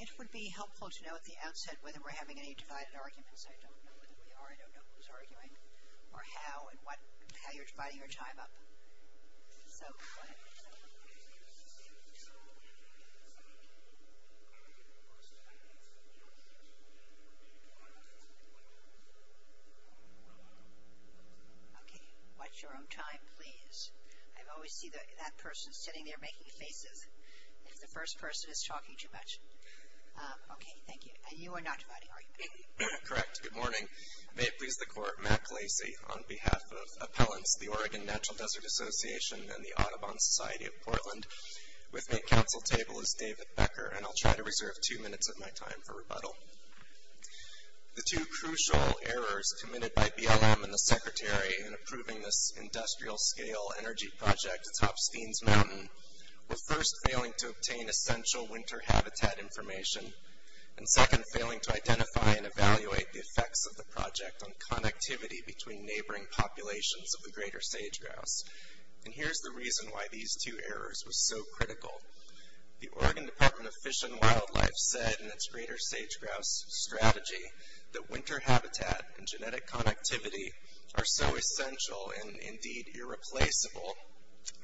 It would be helpful to know at the outset whether we're having any divided arguments. I don't know who we are, I don't know who's arguing, or how, and how you're dividing your time up. Okay, watch your own time, please. I always see that person sitting there making faces if the first person is talking too much. Okay, thank you. And you are not dividing, are you? Correct. Good morning. May it please the Court, Matt Glacey on behalf of Appellants, the Oregon Natural Desert Association, and the Audubon Society of Portland. With me at council table is David Becker, and I'll try to reserve two minutes of my time for rebuttal. The two crucial errors committed by BLM and the Secretary in approving this industrial scale energy project atop Steens Mountain were first failing to obtain essential winter habitat information, and second failing to identify and evaluate the effects of the project on connectivity between neighboring populations of the greater sage-grouse. And here's the reason why these two errors were so critical. The Oregon Department of Fish and Wildlife said in its greater sage-grouse strategy that winter habitat and genetic connectivity are so essential, and indeed irreplaceable,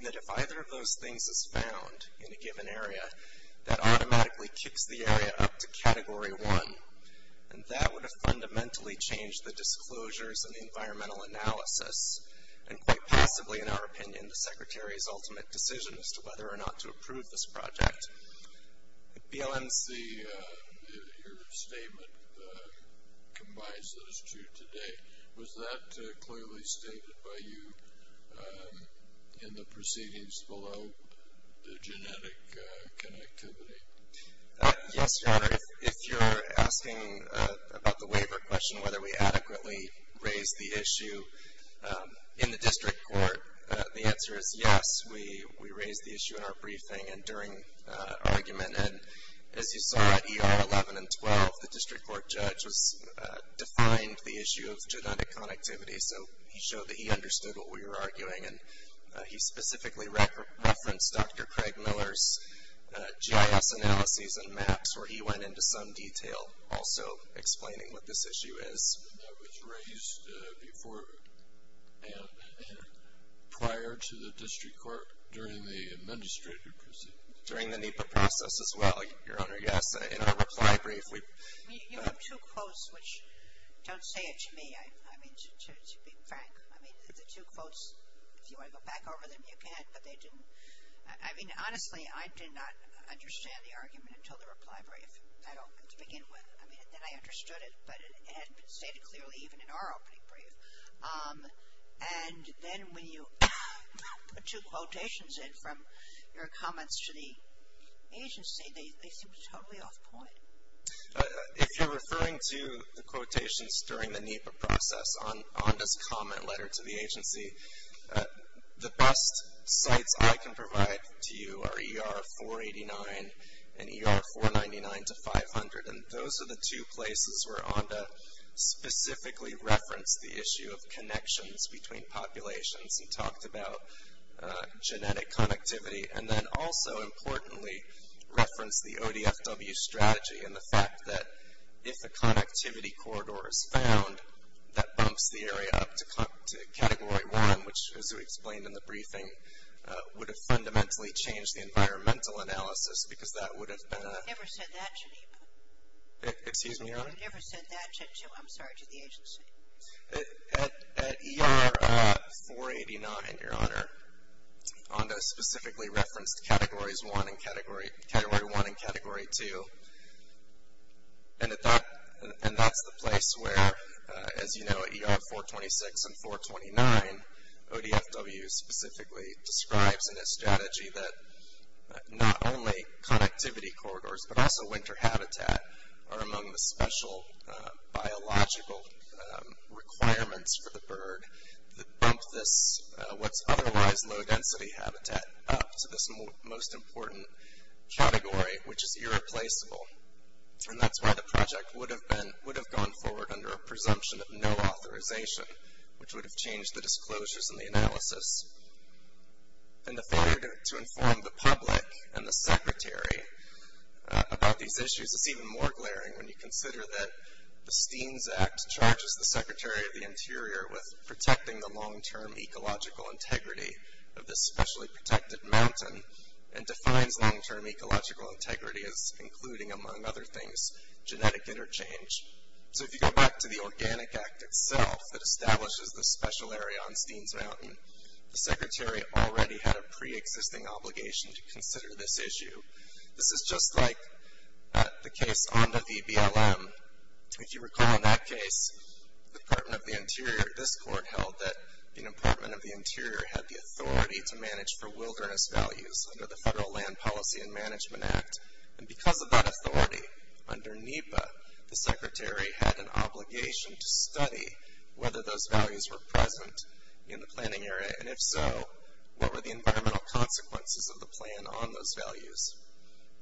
that if either of those things is found in a given area, that automatically kicks the area up to Category 1. And that would have fundamentally changed the disclosures and the environmental analysis, and quite possibly, in our opinion, the Secretary's ultimate decision as to whether or not to approve this project. BLM's statement combines those two today. Was that clearly stated by you in the proceedings below, the genetic connectivity? Yes, Your Honor. If you're asking about the waiver question, whether we adequately raised the issue in the district court, the answer is yes. We raised the issue in our briefing and during argument, and as you saw at ER 11 and 12, the district court judge defined the issue of genetic connectivity, so he showed that he understood what we were arguing, and he specifically referenced Dr. Craig Miller's GIS analyses and maps where he went into some detail also explaining what this issue is. And that was raised before and prior to the district court during the administrative proceedings? During the NEPA process as well, Your Honor. Yes, in our reply brief. You have two quotes which don't say it to me, I mean, to be frank. I mean, the two quotes, if you want to go back over them, you can, but they didn't. I mean, honestly, I did not understand the argument until the reply brief, to begin with. I mean, then I understood it, but it hadn't been stated clearly even in our opening brief. And then when you put two quotations in from your comments to the agency, they seemed totally off point. If you're referring to the quotations during the NEPA process on this comment letter to the agency, the best sites I can provide to you are ER 489 and ER 499 to 500, and those are the two places where Onda specifically referenced the issue of connections between populations and talked about genetic connectivity. And then also, importantly, referenced the ODFW strategy and the fact that if a connectivity corridor is found, that bumps the area up to category one, which, as we explained in the briefing, would have fundamentally changed the environmental analysis, because that would have been a... I never said that, Geneva. Excuse me, Your Honor? I never said that to, I'm sorry, to the agency. At ER 489, Your Honor, Onda specifically referenced category one and category two, and that's the place where, as you know, ER 426 and 429, ODFW specifically describes in its strategy that not only connectivity corridors, but also winter habitat are among the special biological requirements for the bird that bump this, what's otherwise low density habitat, up to this most important category, which is irreplaceable. And that's why the project would have gone forward under a presumption of no authorization, which would have changed the disclosures and the analysis. And the failure to inform the public and the secretary about these issues is even more glaring when you consider that the Steens Act charges the Secretary of the Interior with protecting the long-term ecological integrity of this specially protected mountain and defines long-term ecological integrity as including, among other things, genetic interchange. So if you go back to the Organic Act itself that establishes the special area on Steens Mountain, the Secretary already had a pre-existing obligation to consider this issue. This is just like the case Onda v. BLM. If you recall that case, the Department of the Interior, this court held that the Department of the Interior had the authority to manage for wilderness values under the Federal Land Policy and Management Act, and because of that authority, under NEPA, the Secretary had an obligation to study whether those values were present in the planning area, and if so, what were the environmental consequences of the plan on those values.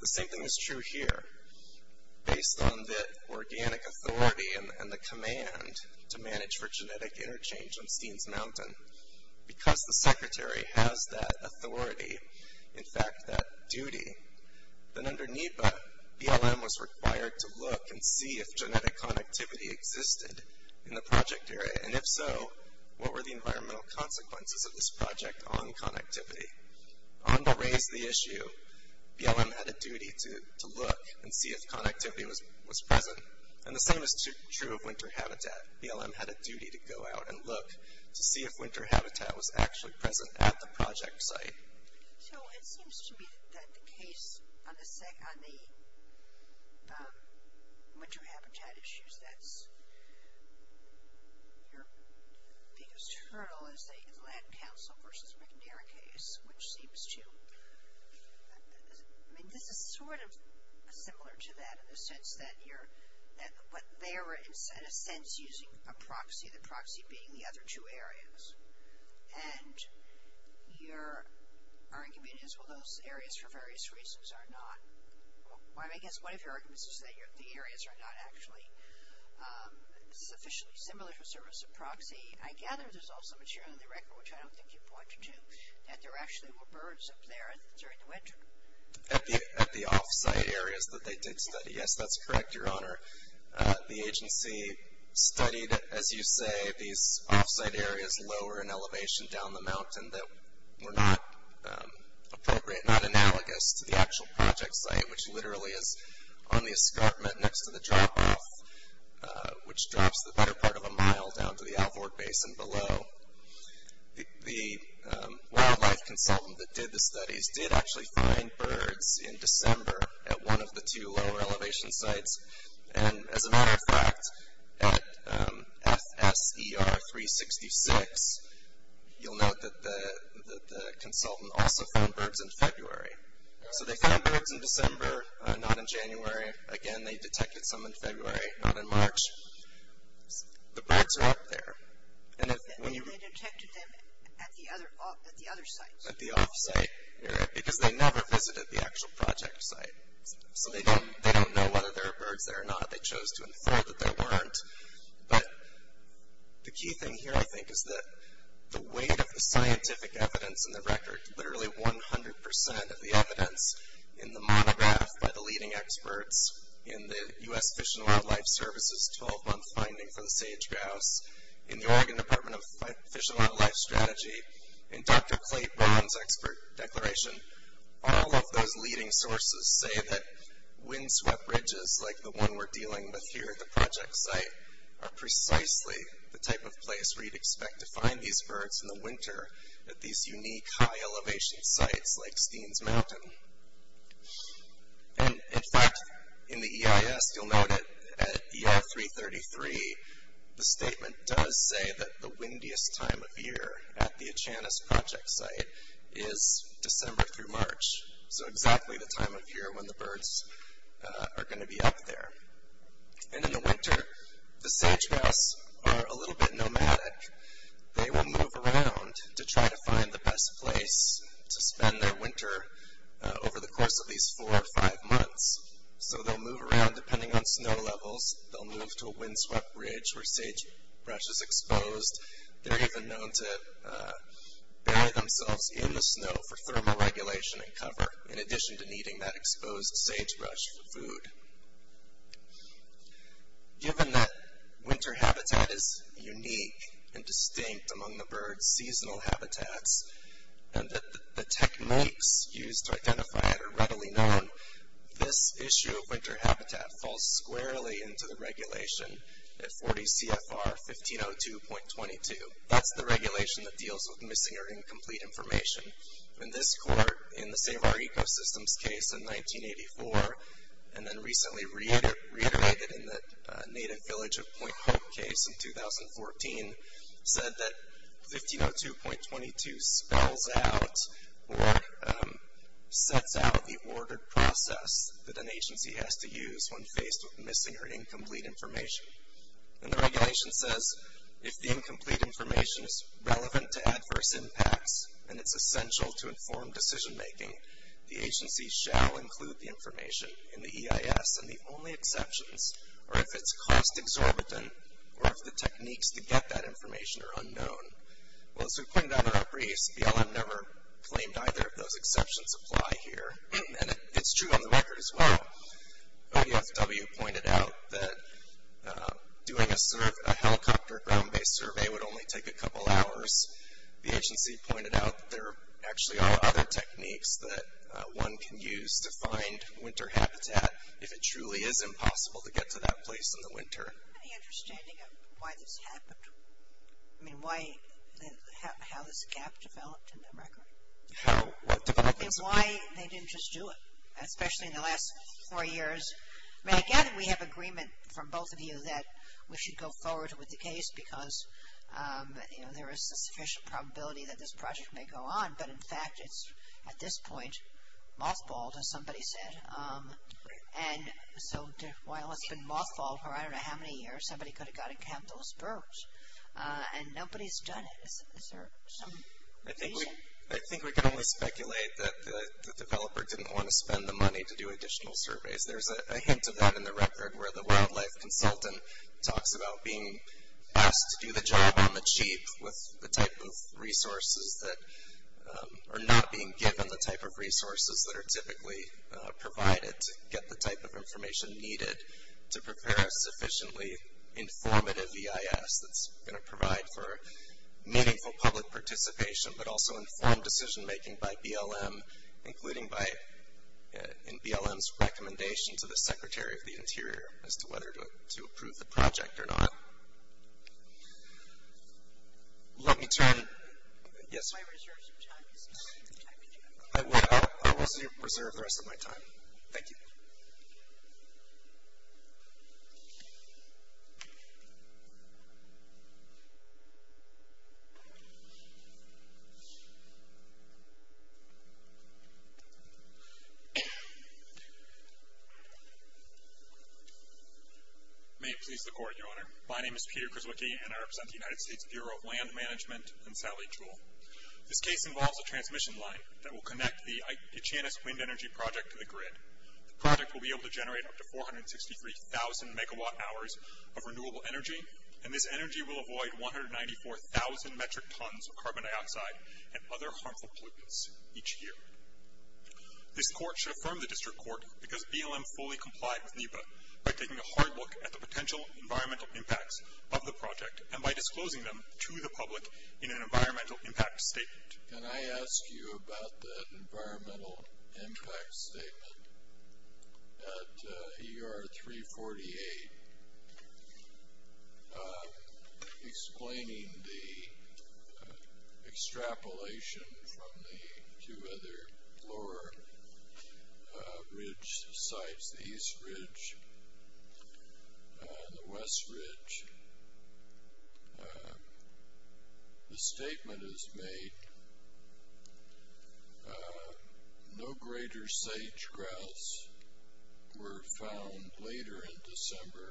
The same thing is true here. Based on the organic authority and the command to manage for genetic interchange on Steens Mountain, because the Secretary has that authority, in fact, that duty, then under NEPA, BLM was required to look and see if genetic connectivity existed in the project area, and if so, what were the environmental consequences of this project on connectivity. Onda raised the issue. BLM had a duty to look and see if connectivity was present, and the same is true of winter habitat. BLM had a duty to go out and look to see if winter habitat was actually present at the project site. So it seems to me that the case on the winter habitat issues, your biggest hurdle is the land council versus McNair case, which seems to, I mean, this is sort of similar to that in the sense that you're, but they were in a sense using a proxy, the proxy being the argument is, well, those areas for various reasons are not. I guess one of your arguments is that the areas are not actually sufficiently similar to a service of proxy. I gather there's also material in the record, which I don't think you pointed to, that there actually were birds up there during the winter. At the off-site areas that they did study, yes, that's correct, Your Honor. The agency studied, as you say, these off-site areas lower in elevation down the mountain that were not appropriate, not analogous to the actual project site, which literally is on the escarpment next to the drop-off, which drops the better part of a mile down to the Alvord Basin below. The wildlife consultant that did the studies did actually find birds in December at one of the two lower elevation sites. And as a matter of fact, at FSER 366, you'll note that the consultant also found birds in February. So they found birds in December, not in January. Again, they detected some in February, not in March. The birds are up there. And when you... They detected them at the other sites. At the off-site area, because they never visited the actual project site. So they don't know whether there are birds there or not. They chose to infer that there weren't. But the key thing here, I think, is that the weight of the scientific evidence in the record, literally 100% of the evidence in the monograph by the leading experts in the U.S. Fish and Wildlife Service's 12-month finding for the sage-grouse, in the Oregon Department of Fish and Wildlife Strategy, in Dr. Clay Brown's expert declaration, all of those leading sources say that windswept ridges, like the one we're dealing with here at the project site, are precisely the type of place where you'd expect to find these birds in the winter at these unique high-elevation sites like Steens Mountain. And, in fact, in the EIS, you'll note at EI 333, the statement does say that the windiest time of year at the Achanis project site is December through March. So exactly the time of year when the birds are going to be up there. And in the winter, the sage-grouse are a little bit nomadic. They will move around to try to find the best place to spend their winter over the course of these four or five months. So they'll move around depending on snow levels. They'll move to a windswept ridge where sagebrush is exposed. They're even known to bury themselves in the snow for thermal regulation and cover, in addition to needing that exposed sagebrush for food. Given that winter habitat is unique and distinct among the birds, seasonal habitats, and that the techniques used to identify it are readily known, this issue of winter habitat falls squarely into the regulation at 40 CFR 1502.22. That's the regulation that deals with missing or incomplete information. And this court, in the Save Our Ecosystems case in 1984, and then recently reiterated in the Native Village of Point Hope case in 2014, said that 1502.22 spells out or sets out the ordered process that an agency has to use when faced with missing or incomplete information. And the regulation says if the incomplete information is relevant to adverse impacts and it's essential to inform decision-making, the agency shall include the information in the EIS and the only exceptions, or if it's cost exorbitant, or if the techniques to get that information are unknown. Well, as we've pointed out in our briefs, the LM never claimed either of those exceptions apply here, and it's true on the record as well. ODFW pointed out that doing a helicopter ground-based survey would only take a couple hours. The agency pointed out that there actually are other techniques that one can use to find winter habitat if it truly is impossible to get to that place in the winter. Do you have any understanding of why this happened? I mean, why, how this gap developed in the record? I mean, why they didn't just do it, especially in the last four years? I mean, I gather we have agreement from both of you that we should go forward with the case because, you know, there is a sufficient probability that this project may go on, but in fact it's at this point mothballed, as somebody said. And so while it's been mothballed for I don't know how many years, somebody could have gotten to have those birds, and nobody's done it. Is there some reason? I think we can only speculate that the developer didn't want to spend the money to do additional surveys. There's a hint of that in the record where the wildlife consultant talks about being asked to do the job on the cheap with the type of resources that are not being given the type of resources that are typically provided to get the type of information needed to prepare a sufficiently informative EIS that's going to provide for meaningful public participation, but also informed decision-making by BLM, including in BLM's recommendation to the Secretary of the Interior as to whether to approve the project or not. Let me turn, yes? I will reserve the rest of my time. Thank you. May it please the Court, Your Honor. My name is Peter Krzywicki, and I represent the United States Bureau of Land Management and Sally Jewell. This case involves a transmission line that will connect the Itchianus Wind Energy Project to the grid. The project will be able to generate up to 463,000 megawatt-hours of renewable energy, and this energy will avoid 194,000 metric tons of carbon dioxide and other harmful pollutants each year. This court should affirm the district court because BLM fully complied with NEPA by taking a hard look at the potential environmental impacts of the project and by disclosing them to the public in an environmental impact statement. Can I ask you about the environmental impact statement at ER 348, explaining the extrapolation from the two other lower ridge sites, the East Ridge and the West Ridge? The statement is made, no greater sage grouse were found later in December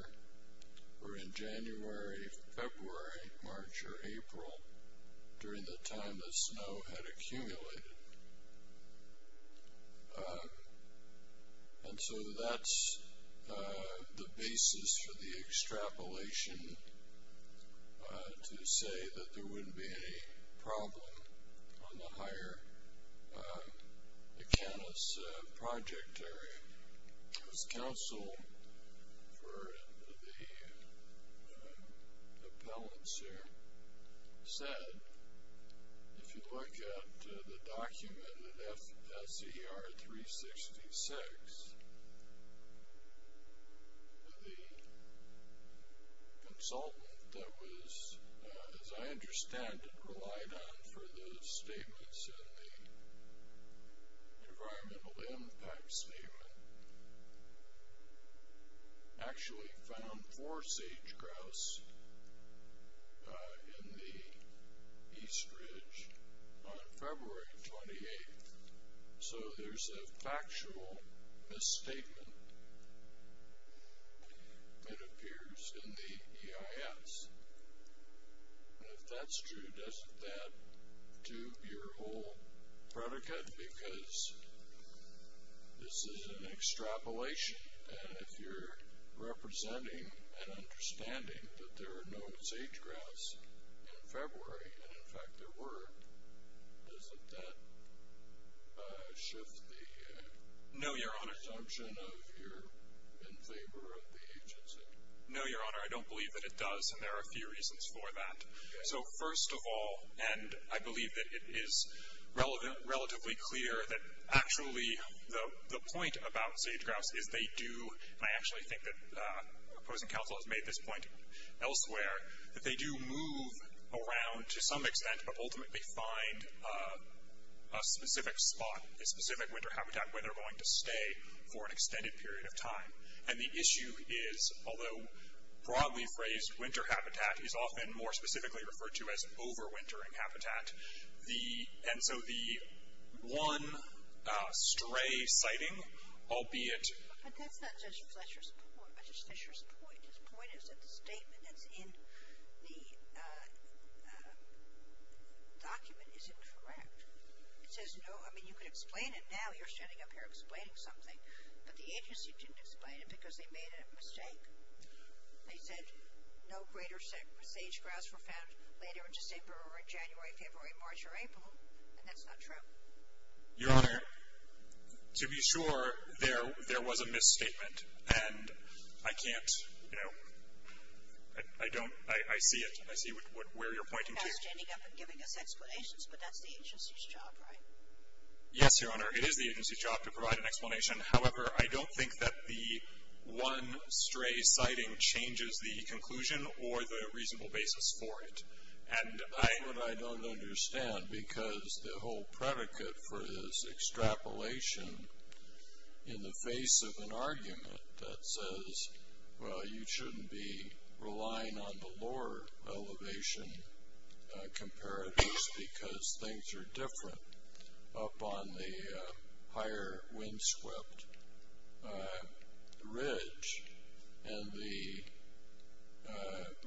or in January, February, March, or April during the time the snow had accumulated. And so that's the basis for the extrapolation to say that there wouldn't be any problem on the higher Itchianus project area. As counsel for the appellants here said, if you look at the document at SER 366, the consultant that was, as I understand it, relied on for the statements in the environmental impact statement, actually found four sage grouse in the East Ridge on February 28th. So there's a factual misstatement that appears in the EIS. And if that's true, doesn't that do your whole predicate? Because this is an extrapolation, and if you're representing and understanding that there are no sage grouse in February, and in fact there were, doesn't that shift the assumption of you're in favor of the agency? No, Your Honor. I don't believe that it does, and there are a few reasons for that. So first of all, and I believe that it is relatively clear that actually the point about sage grouse is they do, and I actually think that opposing counsel has made this point elsewhere, that they do move around to some extent, but ultimately find a specific spot, a specific winter habitat where they're going to stay for an extended period of time. And the issue is, although broadly phrased, winter habitat is often more specifically referred to as overwintering habitat. And so the one stray sighting, albeit. But that's not Judge Fletcher's point. His point is that the statement that's in the document is incorrect. It says no, I mean you could explain it now. You're standing up here explaining something, but the agency didn't explain it because they made a mistake. They said no greater sage grouse were found later in December or in January, February, March, or April, and that's not true. Your Honor, to be sure, there was a misstatement, and I can't, you know, I don't, I see it. I see where you're pointing to. You're not standing up and giving us explanations, but that's the agency's job, right? Yes, Your Honor. It is the agency's job to provide an explanation. However, I don't think that the one stray sighting changes the conclusion or the reasonable basis for it. And I don't understand because the whole predicate for this extrapolation in the face of an argument that says, well, you shouldn't be relying on the lower elevation comparatives because things are different up on the higher windswept ridge. And the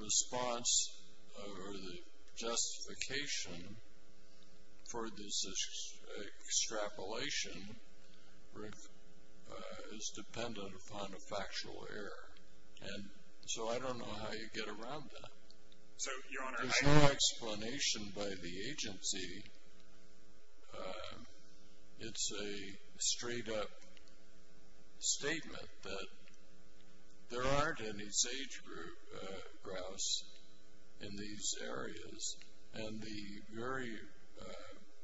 response or the justification for this extrapolation is dependent upon a factual error. And so I don't know how you get around that. So, Your Honor, I. There's no explanation by the agency. It's a straight-up statement that there aren't any sage grouse in these areas. And the very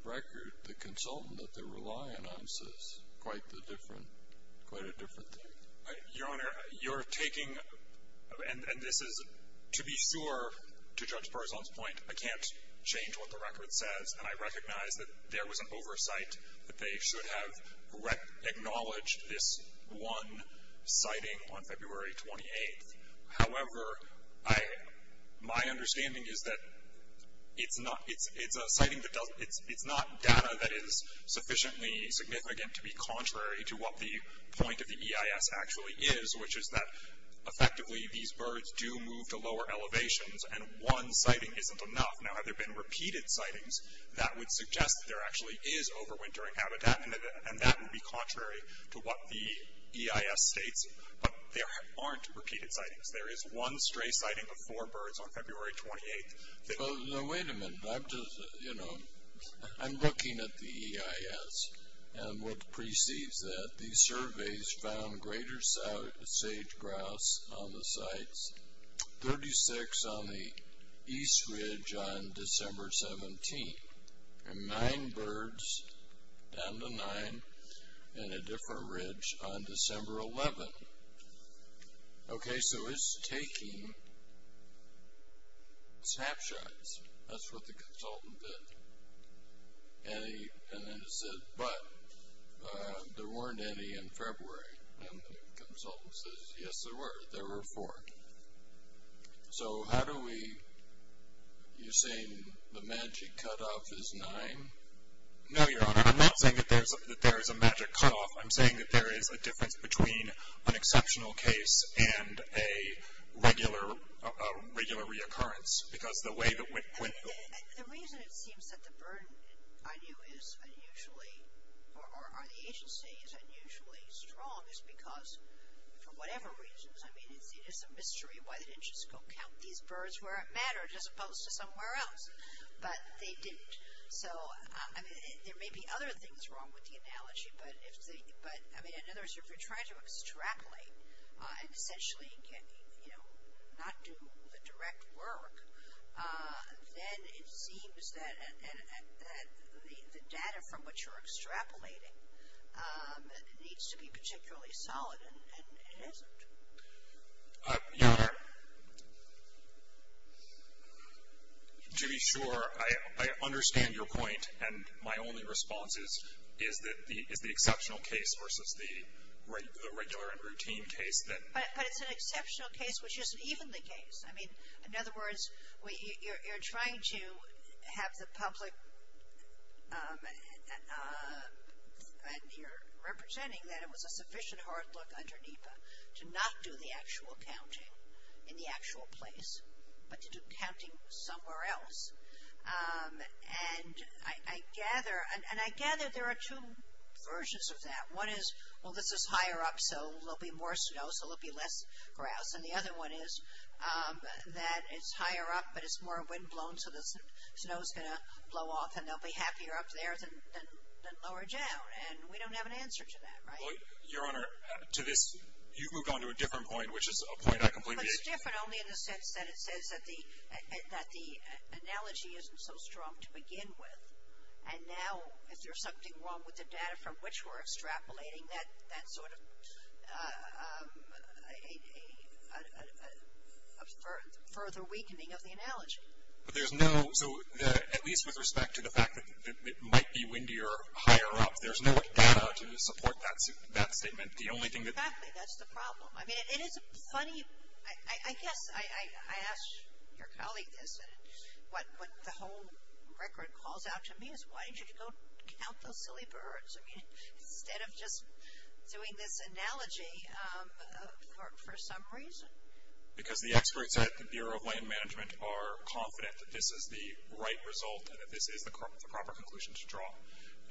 record, the consultant that they're relying on says quite a different thing. Your Honor, you're taking, and this is, to be sure, to Judge Parazon's point, I can't change what the record says. And I recognize that there was an oversight that they should have acknowledged this one sighting on February 28th. However, I, my understanding is that it's not, it's a sighting that doesn't, it's not data that is sufficiently significant to be contrary to what the point of the EIS actually is, which is that effectively these birds do move to lower elevations and one sighting isn't enough. Now, have there been repeated sightings? That would suggest that there actually is overwintering habitat, and that would be contrary to what the EIS states. But there aren't repeated sightings. There is one stray sighting of four birds on February 28th. Well, now, wait a minute. I'm just, you know, I'm looking at the EIS and what precedes that. These surveys found greater sage-grouse on the sites, 36 on the east ridge on December 17th, and nine birds, down to nine, in a different ridge on December 11th. Okay, so it's taking snapshots. That's what the consultant did. And then it said, but there weren't any in February. And the consultant says, yes, there were. There were four. So how do we, you're saying the magic cutoff is nine? No, Your Honor. I'm not saying that there is a magic cutoff. I'm saying that there is a difference between an exceptional case and a regular reoccurrence. Because the way that when. The reason it seems that the burden, I knew, is unusually, or the agency is unusually strong is because, for whatever reasons. I mean, it's a mystery why they didn't just go count these birds where it mattered, as opposed to somewhere else. But they didn't. So, I mean, there may be other things wrong with the analogy. But, I mean, in other words, if you're trying to extrapolate, essentially not do the direct work, then it seems that the data from which you're extrapolating needs to be particularly solid, and it isn't. Your Honor, to be sure, I understand your point. And my only response is, is the exceptional case versus the regular and routine case that. But it's an exceptional case, which isn't even the case. I mean, in other words, you're trying to have the public, and you're representing that, and there was a sufficient hard look under NEPA to not do the actual counting in the actual place, but to do counting somewhere else. And I gather, and I gather there are two versions of that. One is, well, this is higher up, so there'll be more snow, so there'll be less grouse. And the other one is that it's higher up, but it's more windblown, so the snow's going to blow off, and they'll be happier up there than lower down. And we don't have an answer to that, right? Your Honor, to this, you've moved on to a different point, which is a point I completely. But it's different only in the sense that it says that the analogy isn't so strong to begin with. And now, if there's something wrong with the data from which we're extrapolating, that's sort of a further weakening of the analogy. There's no, so at least with respect to the fact that it might be windier higher up, there's no data to support that statement. The only thing that. Exactly. That's the problem. I mean, it is a funny, I guess I asked your colleague this, and what the whole record calls out to me is why didn't you go count those silly birds? I mean, instead of just doing this analogy for some reason. Because the experts at the Bureau of Land Management are confident that this is the right result and that this is the proper conclusion to draw.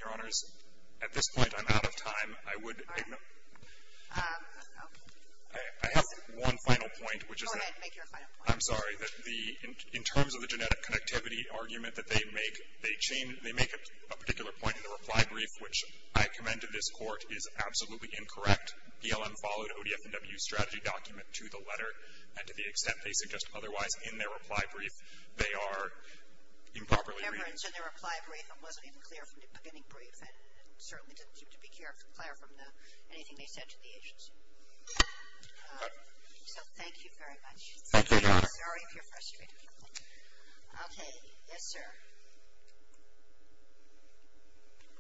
Your Honors, at this point, I'm out of time. I would. All right. Okay. I have one final point, which is that. Go ahead and make your final point. I'm sorry. In terms of the genetic connectivity argument that they make, they make a particular point in the reply brief, which I commend to this Court, is absolutely incorrect. BLM followed ODF&W's strategy document to the letter, and to the extent they suggest otherwise in their reply brief, they are improperly reading. Remember, it's in their reply brief and wasn't even clear from the beginning brief, and certainly didn't seem to be clear from anything they said to the agency. So, thank you very much. Thank you, Your Honor. Sorry if you're frustrated. Okay. Yes, sir.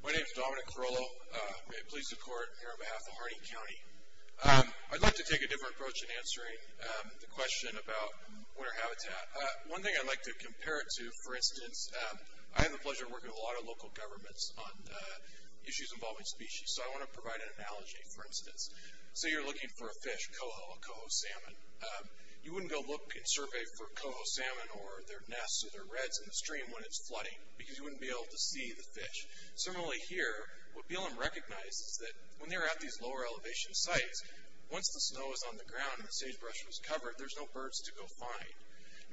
My name is Dominic Carollo. May it please the Court, here on behalf of Harding County. I'd like to take a different approach in answering the question about winter habitat. One thing I'd like to compare it to, for instance, I have the pleasure of working with a lot of local governments on issues involving species, so I want to provide an analogy, for instance. Say you're looking for a fish, a coho, a coho salmon. You wouldn't go look and survey for coho salmon or their nests or their reds in the stream when it's flooding, because you wouldn't be able to see the fish. Similarly here, what BLM recognizes is that when they're at these lower elevation sites, once the snow is on the ground and the sagebrush is covered, there's no birds to go find.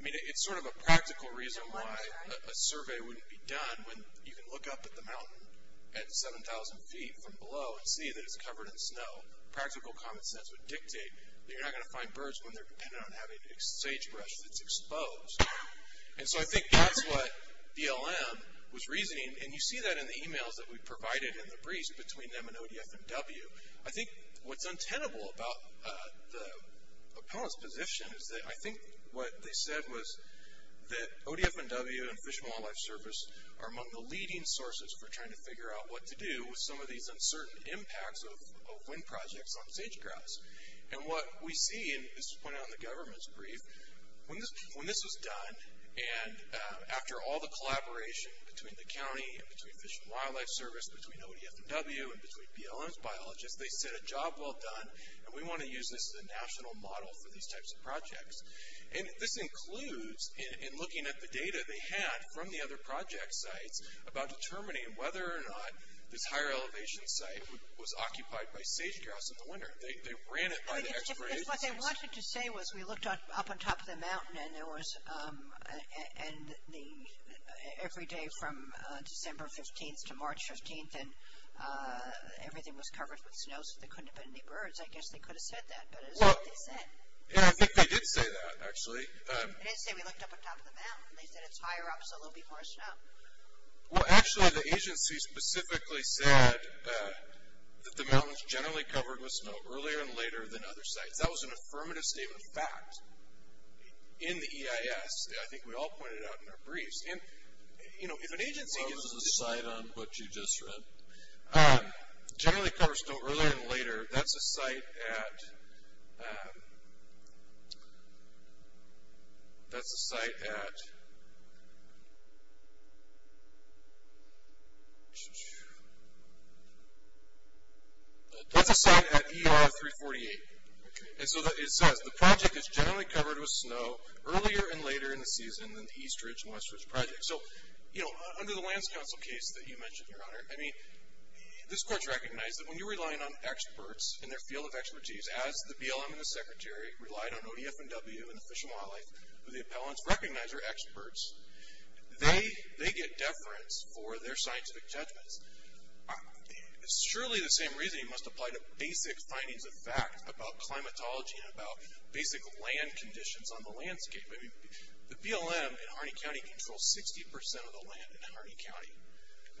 I mean, it's sort of a practical reason why a survey wouldn't be done when you can look up at the mountain at 7,000 feet from below and see that it's covered in snow. Practical common sense would dictate that you're not going to find birds when they're dependent on having sagebrush that's exposed. And so I think that's what BLM was reasoning, and you see that in the emails that we provided in the briefs between them and ODFMW. I think what's untenable about the opponents' position is that I think what they said was that ODFMW and Fish and Wildlife Service are among the leading sources for trying to figure out what to do with some of these uncertain impacts of wind projects on sagebrush. And what we see, and this was pointed out in the government's brief, when this was done and after all the collaboration between the county and between Fish and Wildlife Service, between ODFMW and between BLM's biologists, they said a job well done and we want to use this as a national model for these types of projects. And this includes in looking at the data they had from the other project sites about determining whether or not this higher elevation site was occupied by sagegrass in the winter. They ran it by the exploration sites. What they wanted to say was we looked up on top of the mountain and there was, and every day from December 15th to March 15th and everything was covered with snow so there couldn't have been any birds. I guess they could have said that, but it's not what they said. Yeah, I think they did say that, actually. They didn't say we looked up on top of the mountain. They said it's higher up so there'll be more snow. Well, actually the agency specifically said that the mountain's generally covered with snow earlier and later than other sites. That was an affirmative statement of fact in the EIS. I think we all pointed it out in our briefs. And, you know, if an agency gives you... Well, this is a site on what you just read. Generally covers snow earlier and later. That's a site at... That's a site at... That's a site at ER 348. And so it says the project is generally covered with snow earlier and later in the season than the Eastridge and Westridge projects. So, you know, under the Lands Council case that you mentioned, Your Honor, I mean, this court recognized that when you're relying on experts in their field of expertise as the BLM and the Secretary relied on ODF&W and the Fish and Wildlife or the appellant's recognizer experts, they get deference for their scientific judgments. Surely the same reasoning must apply to basic findings of fact about climatology and about basic land conditions on the landscape. I mean, the BLM in Harney County controls 60% of the land in Harney County.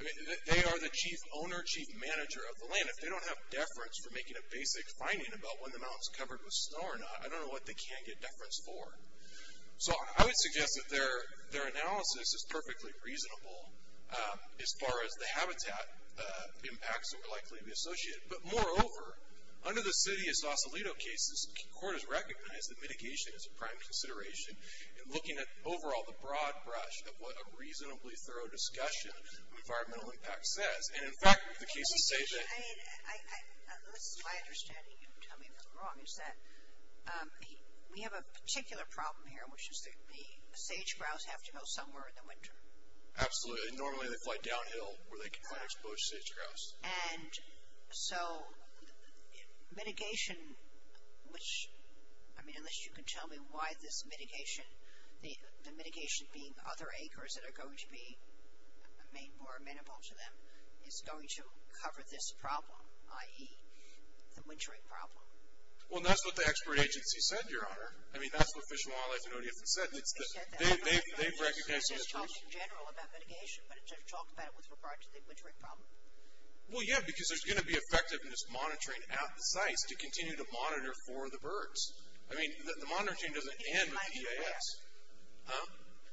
I mean, they are the chief owner, chief manager of the land. If they don't have deference for making a basic finding about when the mountain's covered with snow or not, I don't know what they can get deference for. So I would suggest that their analysis is perfectly reasonable as far as the habitat impacts that would likely be associated. But moreover, under the city of Sausalito cases, the court has recognized that mitigation is a prime consideration in looking at overall the broad brush of what a reasonably thorough discussion of environmental impact says. And in fact, the cases say that... My understanding, you can tell me if I'm wrong, is that we have a particular problem here, which is the sage-grouse have to go somewhere in the winter. Absolutely. Normally they fly downhill where they can find exposed sage-grouse. And so mitigation, which, I mean, unless you can tell me why this mitigation, the mitigation being other acres that are going to be made more amenable to them, is going to cover this problem, i.e., the wintering problem. Well, that's what the expert agency said, Your Honor. I mean, that's what Fish and Wildlife and ODF have said. They've recognized... It's just talking in general about mitigation, but it doesn't talk about it with regard to the wintering problem. Well, yeah, because there's going to be effectiveness monitoring at the sites to continue to monitor for the birds. I mean, the monitoring doesn't end with EAS.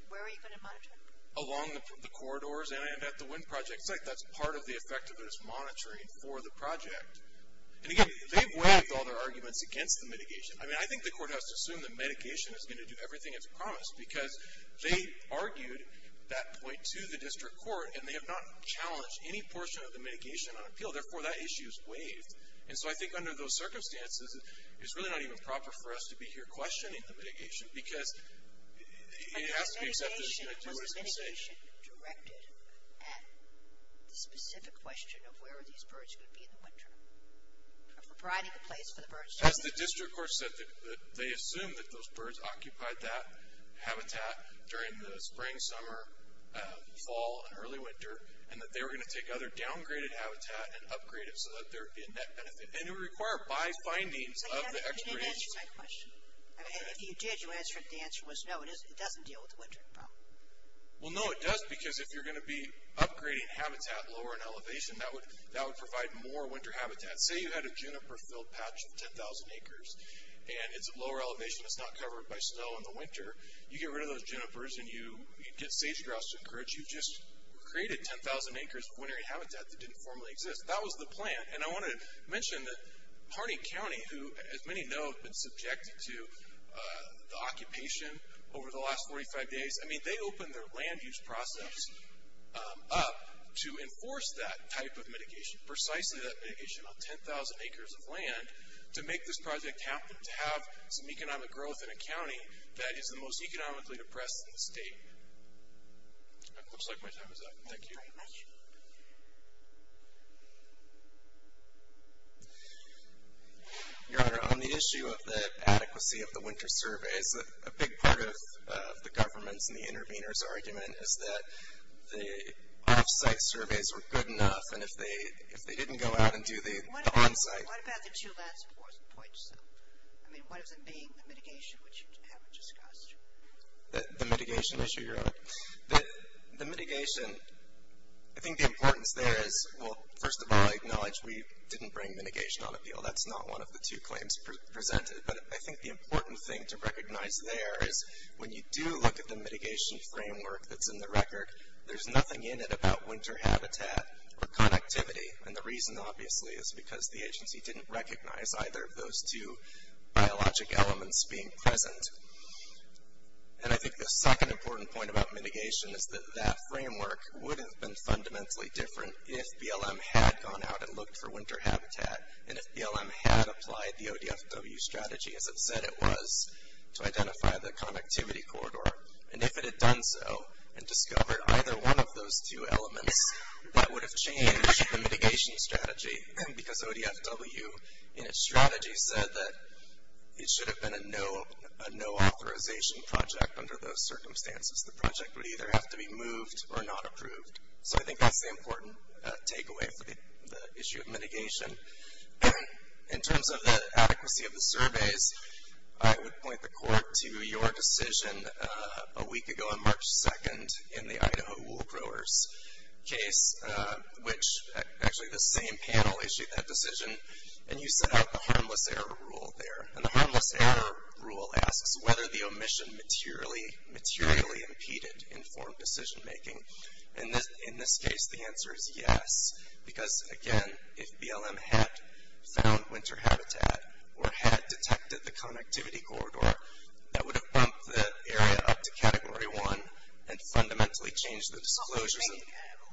Where are you going to monitor? Along the corridors and at the wind project site. That's part of the effectiveness monitoring for the project. And, again, they've waived all their arguments against the mitigation. I mean, I think the court has to assume that mitigation is going to do everything it's promised, because they argued that point to the district court, and they have not challenged any portion of the mitigation on appeal. Therefore, that issue is waived. And so I think under those circumstances, it's really not even proper for us to be here questioning the mitigation, because it has to be accepted. The question was mitigation directed at the specific question of where these birds could be in the winter. Providing a place for the birds. As the district court said, they assumed that those birds occupied that habitat during the spring, summer, fall, and early winter, and that they were going to take other downgraded habitat and upgrade it so that there would be a net benefit. And it would require by findings of the expertise. But you didn't answer my question. If you did, the answer was no, it doesn't deal with the winter. Well, no, it does, because if you're going to be upgrading habitat lower in elevation, that would provide more winter habitat. Say you had a juniper-filled patch of 10,000 acres, and it's at lower elevation, it's not covered by snow in the winter. You get rid of those junipers, and you get sage-grouse to encourage. You've just created 10,000 acres of wintery habitat that didn't formerly exist. That was the plan. And I want to mention that Harney County, who, as many know, has been subjected to the occupation over the last 45 days, I mean, they opened their land use process up to enforce that type of mitigation, precisely that mitigation on 10,000 acres of land, to make this project happen, to have some economic growth in a county that is the most economically depressed in the state. Looks like my time is up. Thank you. Thank you very much. Your Honor, on the issue of the adequacy of the winter surveys, a big part of the government's and the intervener's argument is that the off-site surveys were good enough, and if they didn't go out and do the on-site. What about the two last points? I mean, what does it mean, the mitigation, which you haven't discussed? The mitigation issue, Your Honor? The mitigation, I think the importance there is, well, first of all, I acknowledge we didn't bring mitigation on appeal. That's not one of the two claims presented. But I think the important thing to recognize there is when you do look at the mitigation framework that's in the record, there's nothing in it about winter habitat or connectivity. And the reason, obviously, is because the agency didn't recognize either of those two And I think the second important point about mitigation is that that framework would have been fundamentally different if BLM had gone out and looked for winter habitat, and if BLM had applied the ODFW strategy as it said it was to identify the connectivity corridor. And if it had done so and discovered either one of those two elements, that would have changed the mitigation strategy, because ODFW in its strategy said that it should have been a no authorization project under those circumstances. The project would either have to be moved or not approved. So I think that's the important takeaway for the issue of mitigation. In terms of the adequacy of the surveys, I would point the Court to your decision a week ago on March 2nd in the Idaho wool growers case, which actually the same panel issued that decision. And you set out the harmless error rule there. And the harmless error rule asks whether the omission materially impeded informed decision making. And in this case, the answer is yes. Because, again, if BLM had found winter habitat or had detected the connectivity corridor, that would have bumped the area up to Category 1 and fundamentally changed the disclosures.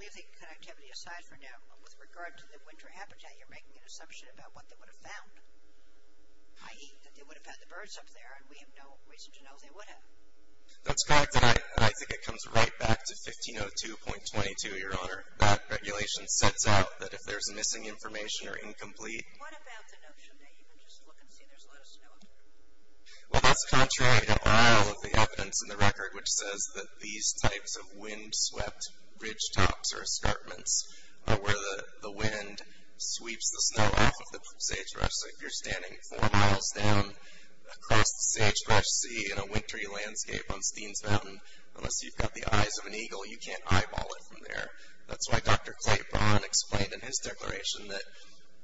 We think connectivity aside for now, with regard to the winter habitat, you're making an assumption about what they would have found, i.e. that they would have had the birds up there, and we have no reason to know they would have. That's correct, and I think it comes right back to 1502.22, Your Honor. That regulation sets out that if there's missing information or incomplete. What about the notion that you can just look and see there's a lot of snow up there? Well, that's contrary to all of the evidence in the record, which says that these types of wind-swept ridgetops or escarpments are where the wind sweeps the snow off of the sagebrush. So if you're standing four miles down across the sagebrush sea in a wintry landscape on Steens Mountain, unless you've got the eyes of an eagle, you can't eyeball it from there. That's why Dr. Clay Braun explained in his declaration that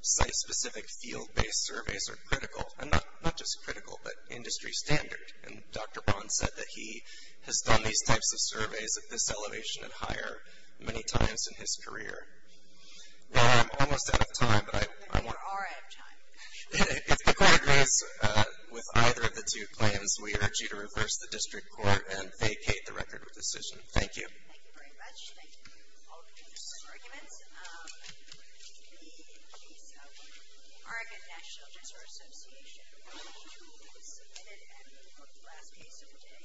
site-specific field-based surveys are critical. And not just critical, but industry standard. And Dr. Braun said that he has done these types of surveys at this elevation and higher many times in his career. Well, I'm almost out of time, but I want to... You are out of time. If the court agrees with either of the two claims, we urge you to reverse the district court and vacate the record of decision. Thank you. Thank you very much. Thank you all for your just arguments. Thank you.